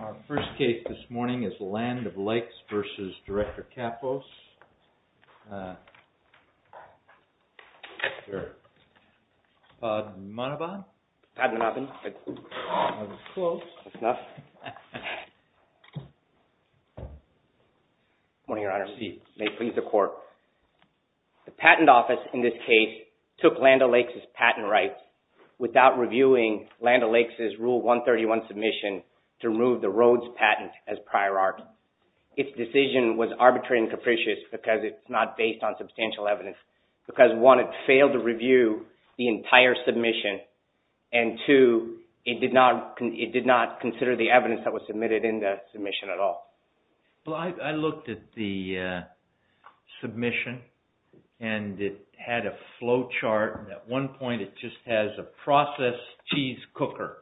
Our first case this morning is LAND O LAKES v. Director Kappos. Good morning, Your Honor. May it please the Court. The Patent Office, in this case, took LAND O LAKES' patent rights without reviewing LAND O LAKES' Rule 131 submission to remove the Rhodes patent as prior art. Its decision was arbitrary and capricious because it's not based on substantial evidence. Because, one, it failed to review the entire submission. And, two, it did not consider the evidence that was submitted in the submission at all. Well, I looked at the submission and it had a flow chart. At one point, it just has a processed cheese cooker.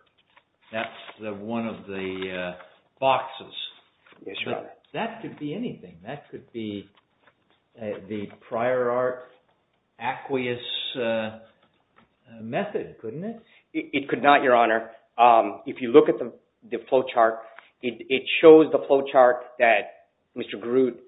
That's one of the boxes. Yes, Your Honor. That could be anything. That could be the prior art aqueous method, couldn't it? It could not, Your Honor. If you look at the flow chart, it shows the flow chart that Mr. Groot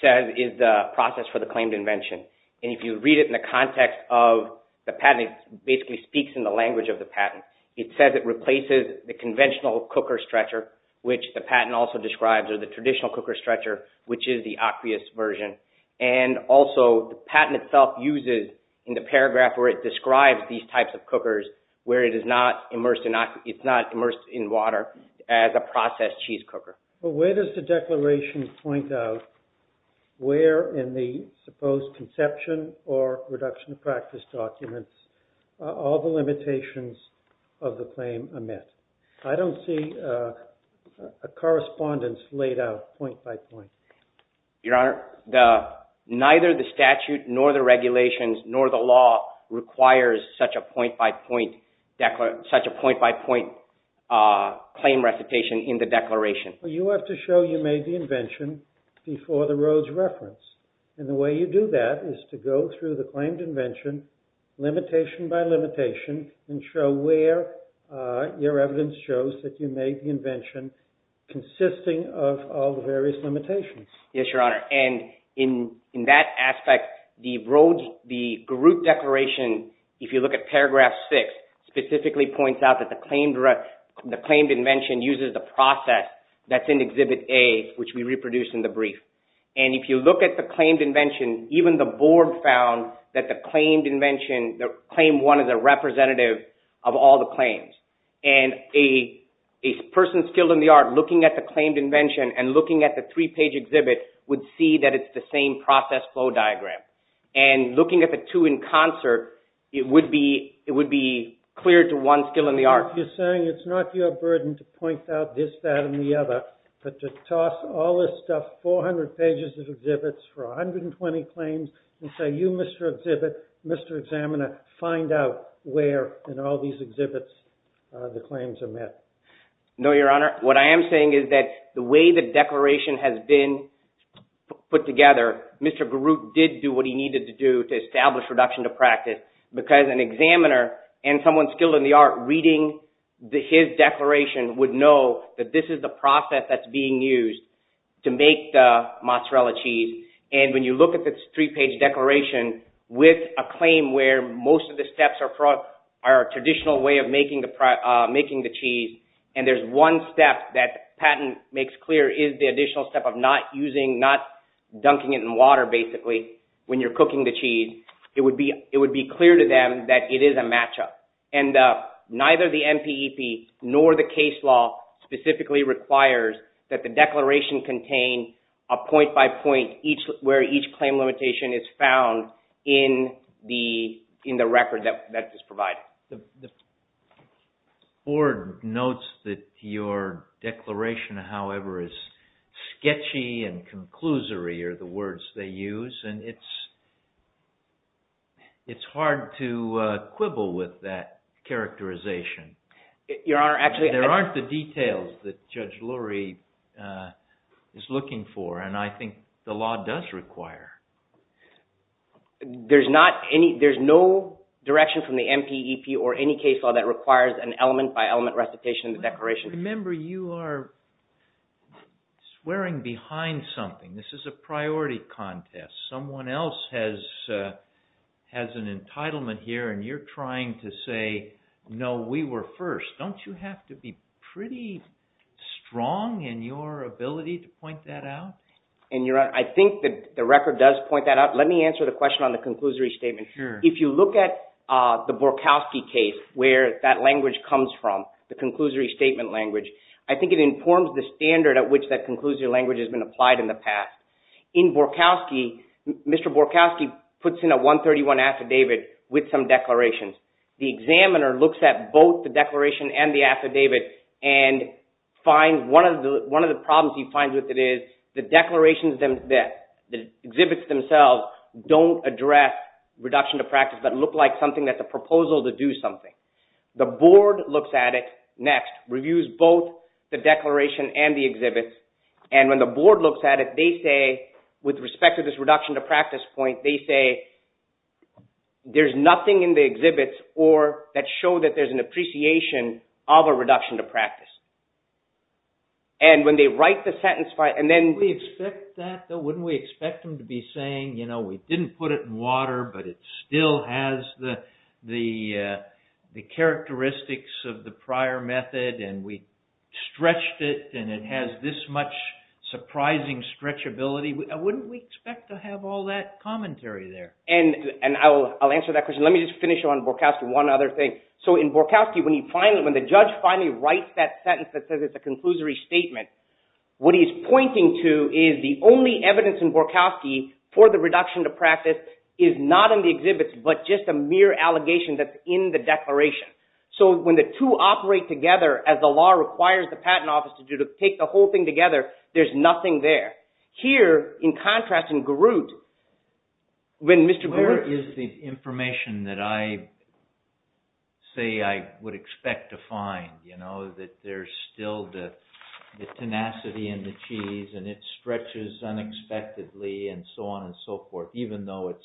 says is the process for the claimed invention. And if you read it in the context of the patent, it basically speaks in the language of the patent. It says it replaces the conventional cooker stretcher, which the patent also describes, or the traditional cooker stretcher, which is the aqueous version. And also, the patent itself uses, in the paragraph where it describes these types of cookers, where it is not immersed in water as a processed cheese cooker. But where does the declaration point out where in the supposed conception or reduction of practice documents all the limitations of the claim are met? I don't see a correspondence laid out point by point. Your Honor, neither the statute nor the regulations nor the law requires such a point by point claim recitation in the declaration. You have to show you made the invention before the Rhodes reference. And the way you do that is to go through the claimed invention, limitation by limitation, and show where your evidence shows that you made the invention consisting of all the various limitations. Yes, Your Honor. And in that aspect, the Rhodes, the Groot declaration, if you look at paragraph 6, specifically points out that the claimed invention uses the process that's in Exhibit A, which we reproduce in the brief. And if you look at the claimed invention, even the board found that the claimed invention, claim one is a representative of all the claims. And a person skilled in the art looking at the claimed invention and looking at the three-page exhibit would see that it's the same process flow diagram. And looking at the two in concert, it would be clear to one skilled in the art. You're saying it's not your burden to point out this, that, and the other, but to toss all this stuff, 400 pages of exhibits for 120 claims, and say, you, Mr. Exhibit, Mr. Examiner, find out where in all these exhibits the claims are met. No, Your Honor. What I am saying is that the way the declaration has been put together, Mr. Groot did do what he needed to do to establish reduction to practice, because an examiner and someone skilled in the art reading his declaration would know that this is the process that's being used to make the mozzarella cheese. And when you look at the three-page declaration with a claim where most of the steps are a traditional way of making the cheese, and there's one step that Patton makes clear is the additional step of not dunking it in water, basically, when you're cooking the cheese, it would be clear to them that it is a match-up. And neither the NPEP nor the case law specifically requires that the declaration contain a point-by-point where each claim limitation is found in the record that is provided. The Board notes that your declaration, however, is sketchy and conclusory are the words they use, and it's hard to quibble with that characterization. There aren't the details that Judge Lurie is looking for, and I think the law does require. There's no direction from the NPEP or any case law that requires an element-by-element recitation in the declaration. Remember, you are swearing behind something. This is a priority contest. Someone else has an entitlement here, and you're trying to say, no, we were first. Don't you have to be pretty strong in your ability to point that out? I think the record does point that out. Let me answer the question on the conclusory statement. If you look at the Borkowski case, where that language comes from, the conclusory statement language, I think it informs the standard at which that conclusory language has been applied in the past. In Borkowski, Mr. Borkowski puts in a 131 affidavit with some declarations. The examiner looks at both the declaration and the affidavit and finds one of the problems he finds with it is the declarations, the exhibits themselves don't address reduction to practice, but look like something that's a proposal to do something. The Board looks at it next, reviews both the declaration and the exhibits, and when the Board looks at it, they say, with respect to this reduction to practice point, they say there's nothing in the exhibits or that show that there's an appreciation of a reduction to practice. And when they write the sentence... Wouldn't we expect them to be saying, you know, we didn't put it in water, but it still has the characteristics of the prior method, and we stretched it, and it has this much surprising stretchability. Wouldn't we expect to have all that commentary there? And I'll answer that question. Let me just finish on Borkowski, one other thing. So in Borkowski, when the judge finally writes that sentence that says it's a conclusory statement, what he's pointing to is the only evidence in Borkowski for the reduction to practice is not in the exhibits, but just a mere allegation that's in the declaration. So when the two operate together, as the law requires the Patent Office to do, to take the whole thing together, there's nothing there. Here, in contrast in Groot, when Mr. Groot... Where is the information that I say I would expect to find, you know, that there's still the tenacity in the cheese, and it stretches unexpectedly, and so on and so forth, even though it's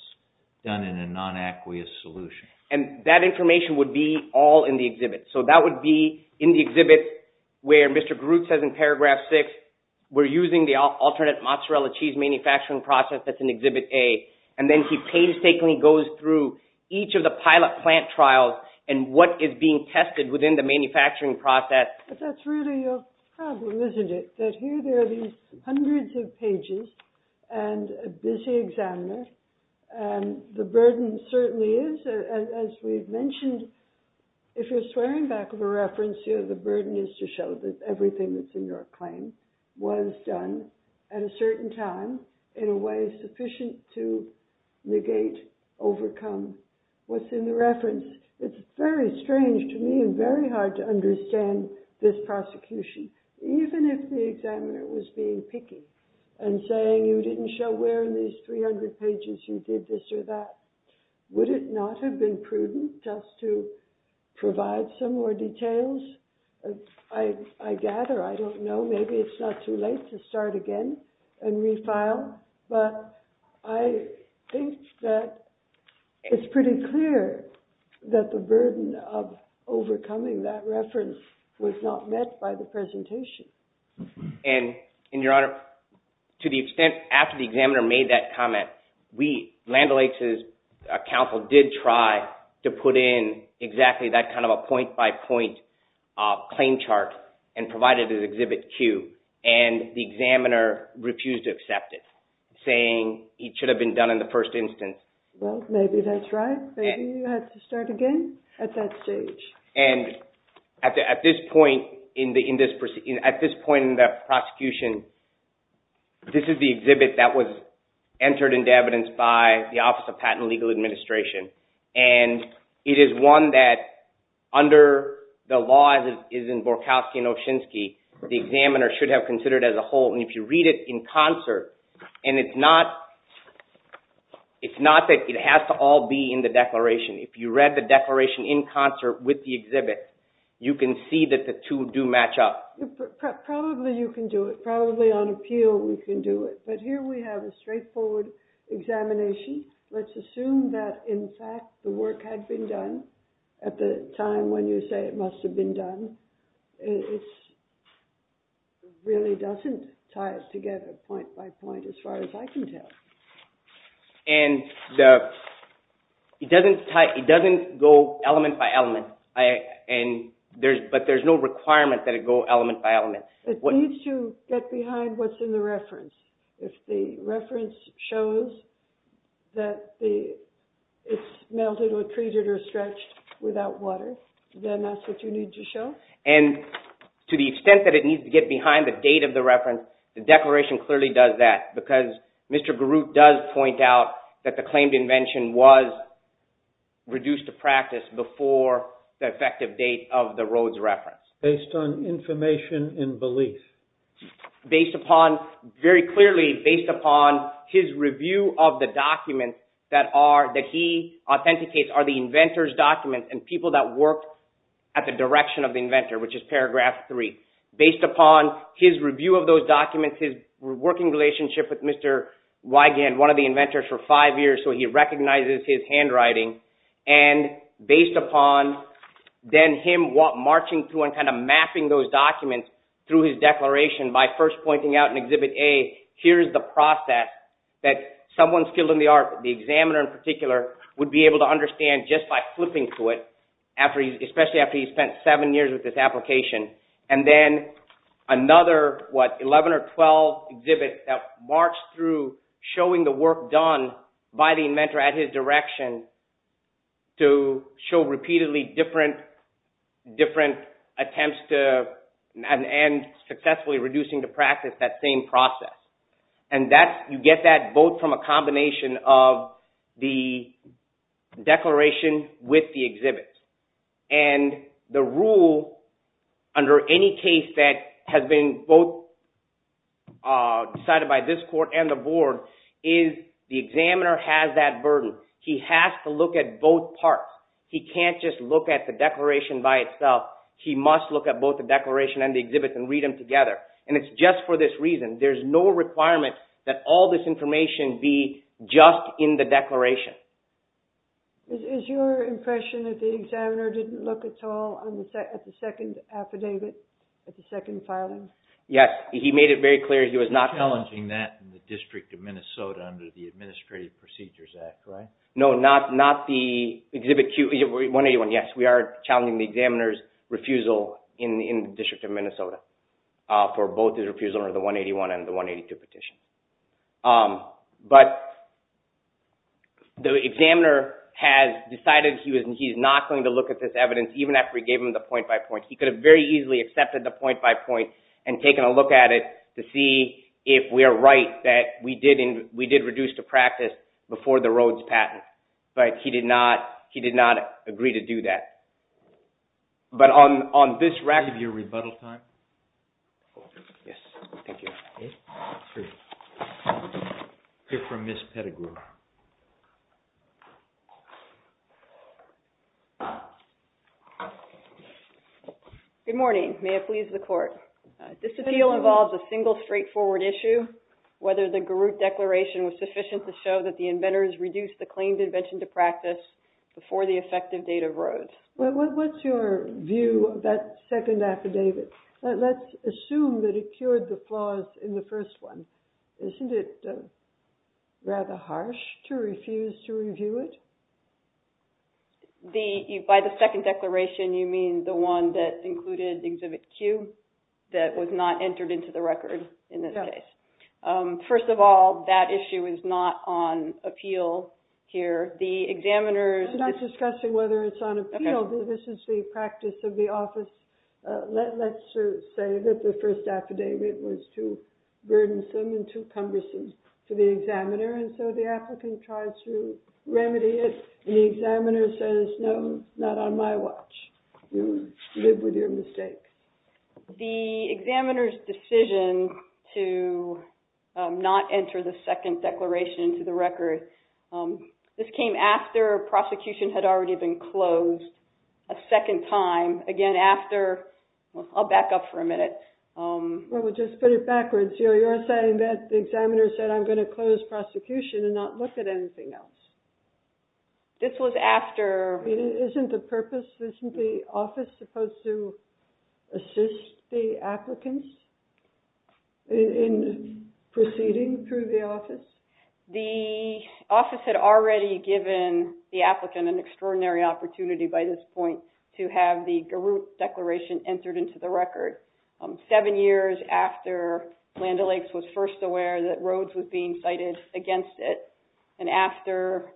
done in a non-aqueous solution? And that information would be all in the exhibit. So that would be in the exhibit where Mr. Groot says in paragraph six, we're using the alternate mozzarella cheese manufacturing process that's in exhibit A. And then he painstakingly goes through each of the pilot plant trials and what is being tested within the manufacturing process. But that's really a problem, isn't it? That here there are these hundreds of pages, and a busy examiner, and the burden certainly is, as we've mentioned, if you're swearing back of a reference, the burden is to show that everything that's in your claim was done at a certain time in a way sufficient to negate, overcome what's in the reference. It's very strange to me and very hard to understand this prosecution. Even if the examiner was being picky and saying, you didn't show where in these 300 pages you did this or that, would it not have been prudent just to provide some more details? I gather, I don't know, maybe it's not too late to start again and refile, but I think that it's pretty clear that the burden of overcoming that reference was not met by the presentation. And, Your Honor, to the extent after the examiner made that comment, Land O'Lakes' counsel did try to put in exactly that kind of a point-by-point claim chart and provide it as Exhibit Q, and the examiner refused to accept it, saying it should have been done in the first instance. Well, maybe that's right. Maybe you had to start again at that stage. At this point in the prosecution, this is the exhibit that was entered into evidence by the Office of Patent and Legal Administration. And it is one that, under the law as it is in Borkowski and Oshinsky, the examiner should have considered as a whole. And if you read it in concert, and it's not that it has to all be in the declaration. If you read the declaration in concert with the exhibit, you can see that the two do match up. Probably you can do it. Probably on appeal we can do it. But here we have a straightforward examination. Let's assume that, in fact, the work had been done at the time when you say it must have been done. It really doesn't tie it together point-by-point as far as I can tell. And it doesn't go element-by-element, but there's no requirement that it go element-by-element. It needs to get behind what's in the reference. If the reference shows that it's melted or treated or stretched without water, then that's what you need to show. And to the extent that it needs to get behind the date of the reference, the declaration clearly does that. Because Mr. Garut does point out that the claimed invention was reduced to practice before the effective date of the Rhodes reference. Based on information and belief. Based upon, very clearly based upon his review of the documents that he authenticates are the inventor's documents and people that worked at the direction of the inventor, which is paragraph three. Based upon his review of those documents, his working relationship with Mr. Wigand, one of the inventors for five years, so he recognizes his handwriting. And based upon then him marching through and kind of mapping those documents through his declaration by first pointing out in Exhibit A, here's the process that someone skilled in the art, the examiner in particular, would be able to understand just by flipping through it, especially after he spent seven years with this application. And then another, what, 11 or 12 exhibits that march through showing the work done by the inventor at his direction to show repeatedly different attempts to, and successfully reducing to practice that same process. And you get that both from a combination of the declaration with the exhibit. And the rule under any case that has been both decided by this court and the board is the examiner has that burden. He has to look at both parts. He can't just look at the declaration by itself. He must look at both the declaration and the exhibit and read them together. And it's just for this reason. Is your impression that the examiner didn't look at all at the second affidavit, at the second filing? Yes, he made it very clear he was not... Challenging that in the District of Minnesota under the Administrative Procedures Act, right? No, not the exhibit 181, yes. We are challenging the examiner's refusal in the District of Minnesota for both his refusal under the 181 and the 182 petition. But the examiner has decided he is not going to look at this evidence even after we gave him the point-by-point. He could have very easily accepted the point-by-point and taken a look at it to see if we are right that we did reduce to practice before the Rhodes patent. But he did not agree to do that. But on this record... Yes, thank you. Okay. We'll hear from Ms. Pettigrew. Good morning. May it please the Court. This appeal involves a single straightforward issue, whether the Garut Declaration was sufficient to show that the inventors reduced the claimed invention to practice before the effective date of Rhodes. What's your view of that second affidavit? Let's assume that it cured the flaws in the first one. Isn't it rather harsh to refuse to review it? By the second declaration, you mean the one that included exhibit Q that was not entered into the record in this case? Yes. First of all, that issue is not on appeal here. The examiner's... I'm not discussing whether it's on appeal. This is the practice of the office. Let's just say that the first affidavit was too burdensome and too cumbersome to the examiner, and so the applicant tries to remedy it, and the examiner says, no, not on my watch. You live with your mistake. The examiner's decision to not enter the second declaration into the record, this came after prosecution had already been closed a second time, again after... I'll back up for a minute. Well, we'll just put it backwards. You're saying that the examiner said, I'm going to close prosecution and not look at anything else. This was after... Isn't the purpose, isn't the office supposed to assist the applicants in proceeding through the office? The office had already given the applicant an extraordinary opportunity by this point to have the Garut Declaration entered into the record. Seven years after Land O'Lakes was first aware that Rhodes was being cited against it and after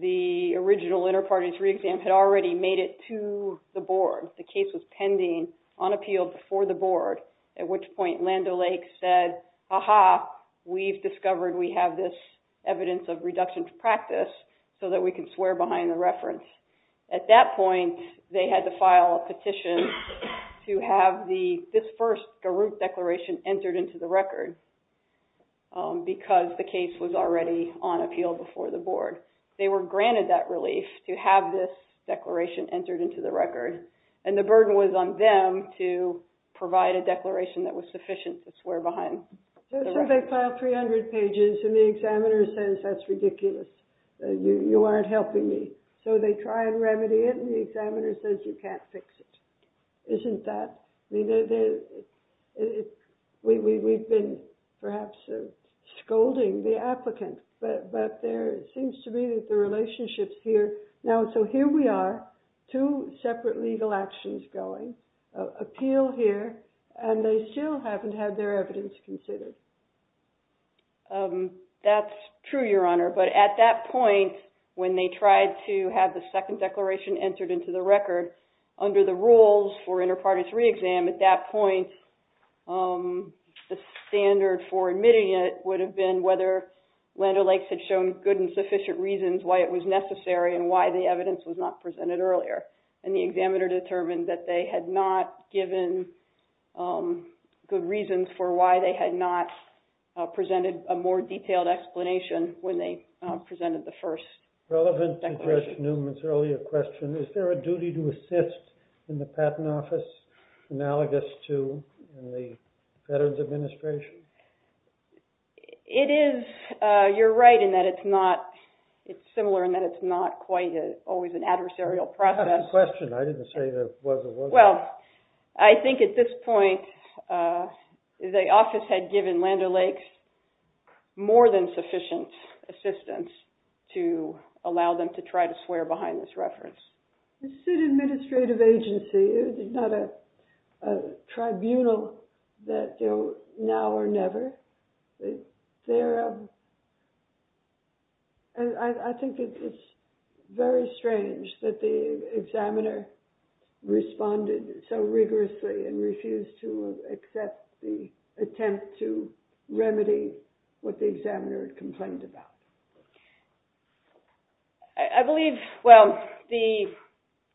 the original inter-parties re-exam had already made it to the board, the case was pending on appeal before the board, at which point Land O'Lakes said, aha, we've discovered we have this evidence of reduction to practice so that we can swear behind the reference. At that point, they had to file a petition to have this first Garut Declaration entered into the record because the case was already on appeal before the board. They were granted that relief to have this declaration entered into the record and the burden was on them to provide a declaration that was sufficient to swear behind the reference. So they filed 300 pages and the examiner says, that's ridiculous, you aren't helping me. So they try and remedy it and the examiner says, you can't fix it. Isn't that, we've been perhaps scolding the applicant, but there seems to be the relationships here. So here we are, two separate legal actions going, appeal here and they still haven't had their evidence considered. That's true, Your Honor, but at that point when they tried to have the second declaration entered into the record, under the rules for inter partes re-exam, at that point the standard for admitting it would have been whether Land O'Lakes had shown good and sufficient reasons why it was necessary and why the evidence was not presented earlier. And the examiner determined that they had not given good reasons for why they had not presented a more detailed explanation when they presented the first declaration. Relevant to Judge Newman's earlier question, is there a duty to assist in the Patent Office, analogous to in the Veterans Administration? It is, you're right in that it's not, it's similar in that it's not quite always an adversarial process. That's the question, I didn't say there was or wasn't. Well, I think at this point the office had given Land O'Lakes more than sufficient assistance to allow them to try to swear behind this reference. It's an administrative agency, it's not a tribunal that now or never. I think it's very strange that the examiner responded so rigorously and refused to accept the attempt to remedy what the examiner had complained about. I believe, well,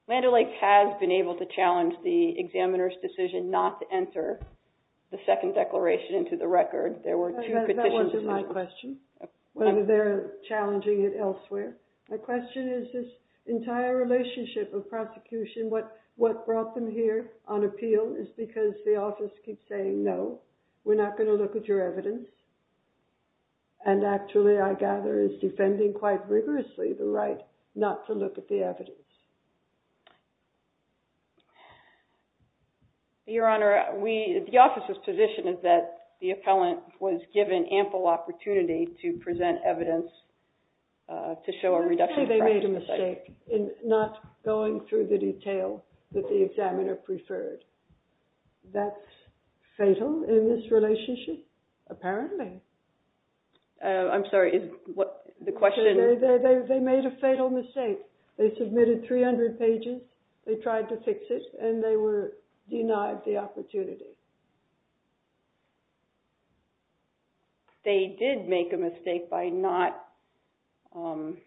Land O'Lakes has been able to challenge the examiner's decision not to enter the second declaration into the record. That wasn't my question, whether they're challenging it elsewhere. My question is this entire relationship of prosecution, what brought them here on appeal is because the office keeps saying, no, we're not going to look at your evidence, and actually I gather is defending quite rigorously the right not to look at the evidence. Your Honor, the office's position is that the appellant was given ample opportunity to present evidence to show a reduction. Actually, they made a mistake in not going through the detail that the examiner preferred. That's fatal in this relationship, apparently. I'm sorry, the question is... They made a fatal mistake. They submitted 300 pages, they tried to fix it, and they were denied the opportunity. They did make a mistake by not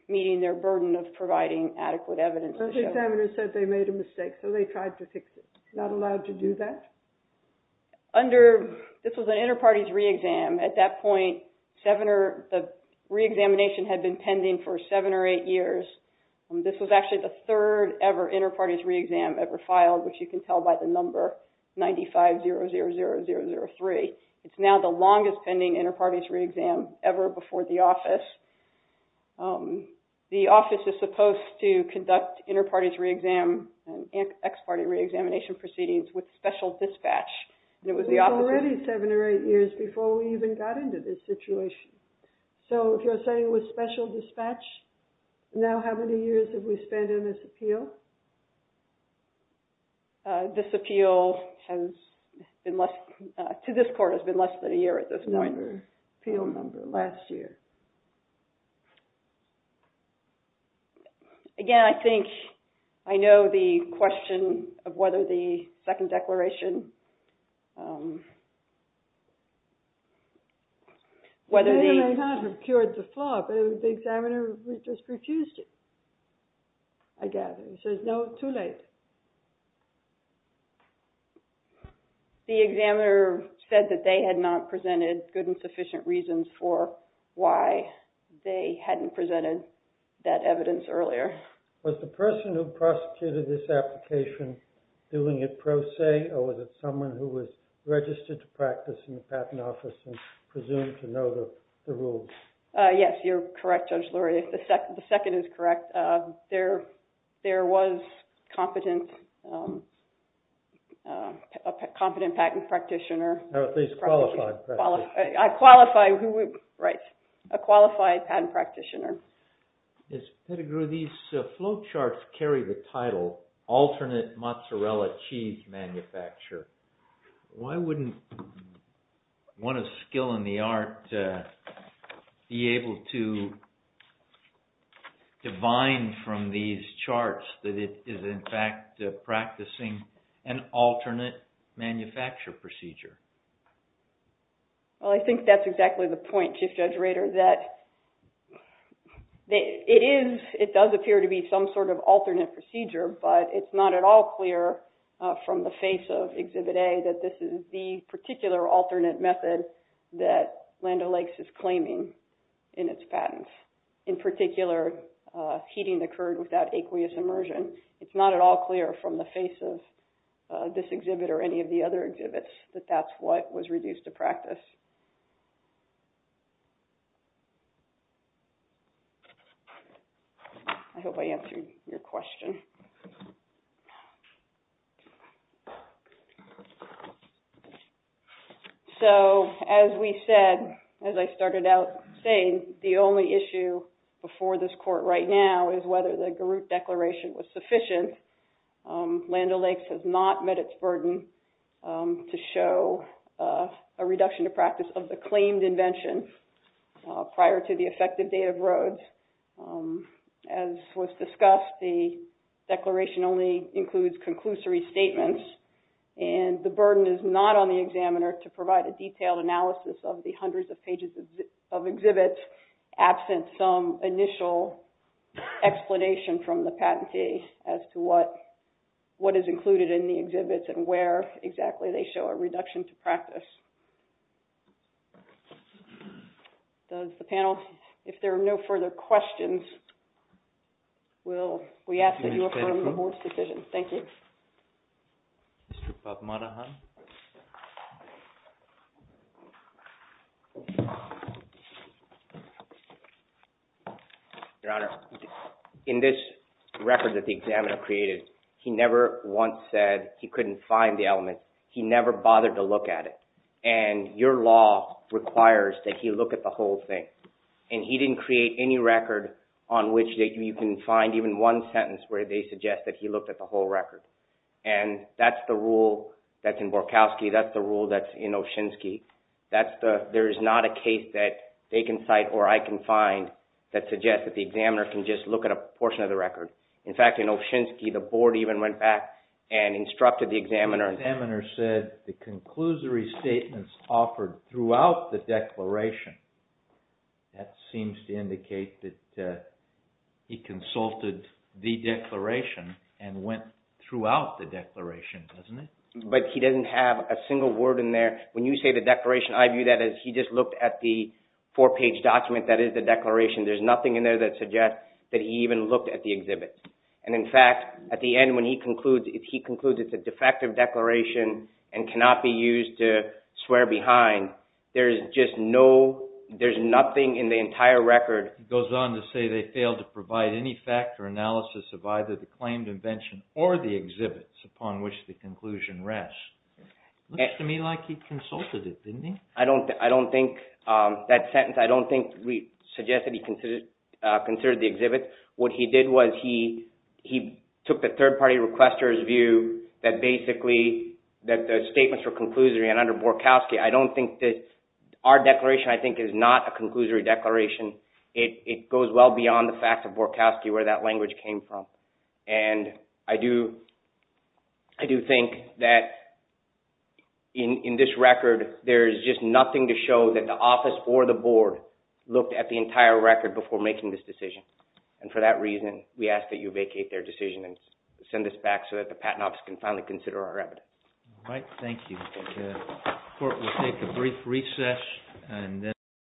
meeting their burden of providing adequate evidence. But the examiner said they made a mistake, so they tried to fix it. Not allowed to do that? This was an inter-parties re-exam. At that point, the re-examination had been pending for seven or eight years. This was actually the third ever inter-parties re-exam ever filed, which you can tell by the number, 9500003. It's now the longest pending inter-parties re-exam ever before the office. The office is supposed to conduct inter-parties re-exam and ex-party re-examination proceedings with special dispatch. It was already seven or eight years before we even got into this situation. So if you're saying it was special dispatch, now how many years have we spent on this appeal? This appeal to this court has been less than a year at this point. The appeal number last year. Again, I think I know the question of whether the second declaration... It may or may not have cured the flaw, but the examiner just refused it, I gather. He says, no, too late. The examiner said that they had not presented good and sufficient reasons for why they hadn't presented that evidence earlier. Was the person who prosecuted this application doing it pro se, or was it someone who was registered to practice in the patent office and presumed to know the rules? Yes, you're correct, Judge Lurie. The second is correct. There was a competent patent practitioner. Or at least qualified. Qualified, right. A qualified patent practitioner. Ms. Pettigrew, these flow charts carry the title Alternate Mozzarella Cheese Manufacturer. Why wouldn't one of skill in the art be able to divine from these charts that it is in fact practicing an alternate manufacture procedure? Well, I think that's exactly the point, Chief Judge Rader, that it does appear to be some sort of alternate procedure, but it's not at all clear from the face of Exhibit A that this is the particular alternate method that Land O'Lakes is claiming in its patents. In particular, heating occurred without aqueous immersion. It's not at all clear from the face of this exhibit or any of the other exhibits that that's what was reduced to practice. I hope I answered your question. So, as we said, as I started out saying, the only issue before this court right now is whether the Garut Declaration was sufficient. Land O'Lakes has not met its burden to show a reduction to practice of the claimed invention prior to the effective date of Rhodes. As was discussed, the declaration only includes conclusory statements, and the burden is not on the examiner to provide a detailed analysis of the hundreds of pages of exhibits absent some initial explanation from the patentee as to what is included in the exhibits and where exactly they show a reduction to practice. Does the panel, if there are no further questions, we ask that you affirm the board's decision. Thank you. Mr. Bob Monahan. Your Honor, in this record that the examiner created, he never once said he couldn't find the element. He never bothered to look at it. And your law requires that he look at the whole thing. And he didn't create any record on which you can find even one sentence where they suggest that he looked at the whole record. And that's the rule that's in Borkowski. That's the rule that's in Oshinsky. There is not a case that they can cite or I can find that suggests that the examiner can just look at a portion of the record. In fact, in Oshinsky, the board even went back and instructed the examiner. The examiner said the conclusory statements offered throughout the declaration, that seems to indicate that he consulted the declaration and went throughout the declaration, doesn't it? But he doesn't have a single word in there. When you say the declaration, I view that as he just looked at the four-page document that is the declaration. There's nothing in there that suggests that he even looked at the exhibit. And in fact, at the end when he concludes, if he concludes it's a defective declaration and cannot be used to swear behind, there's nothing in the entire record. He goes on to say they failed to provide any fact or analysis of either the claimed invention or the exhibits upon which the conclusion rests. It looks to me like he consulted it, didn't he? I don't think that sentence suggests that he considered the exhibit. What he did was he took the third-party requester's view that basically the statements were conclusory. And under Borkowski, I don't think that our declaration, I think, is not a conclusory declaration. It goes well beyond the fact of Borkowski where that language came from. And I do think that in this record, there's just nothing to show that the office or the board looked at the entire record before making this decision. And for that reason, we ask that you vacate their decision and send this back so that the Patent Office can finally consider our evidence. All right. Thank you. The court will take a brief recess.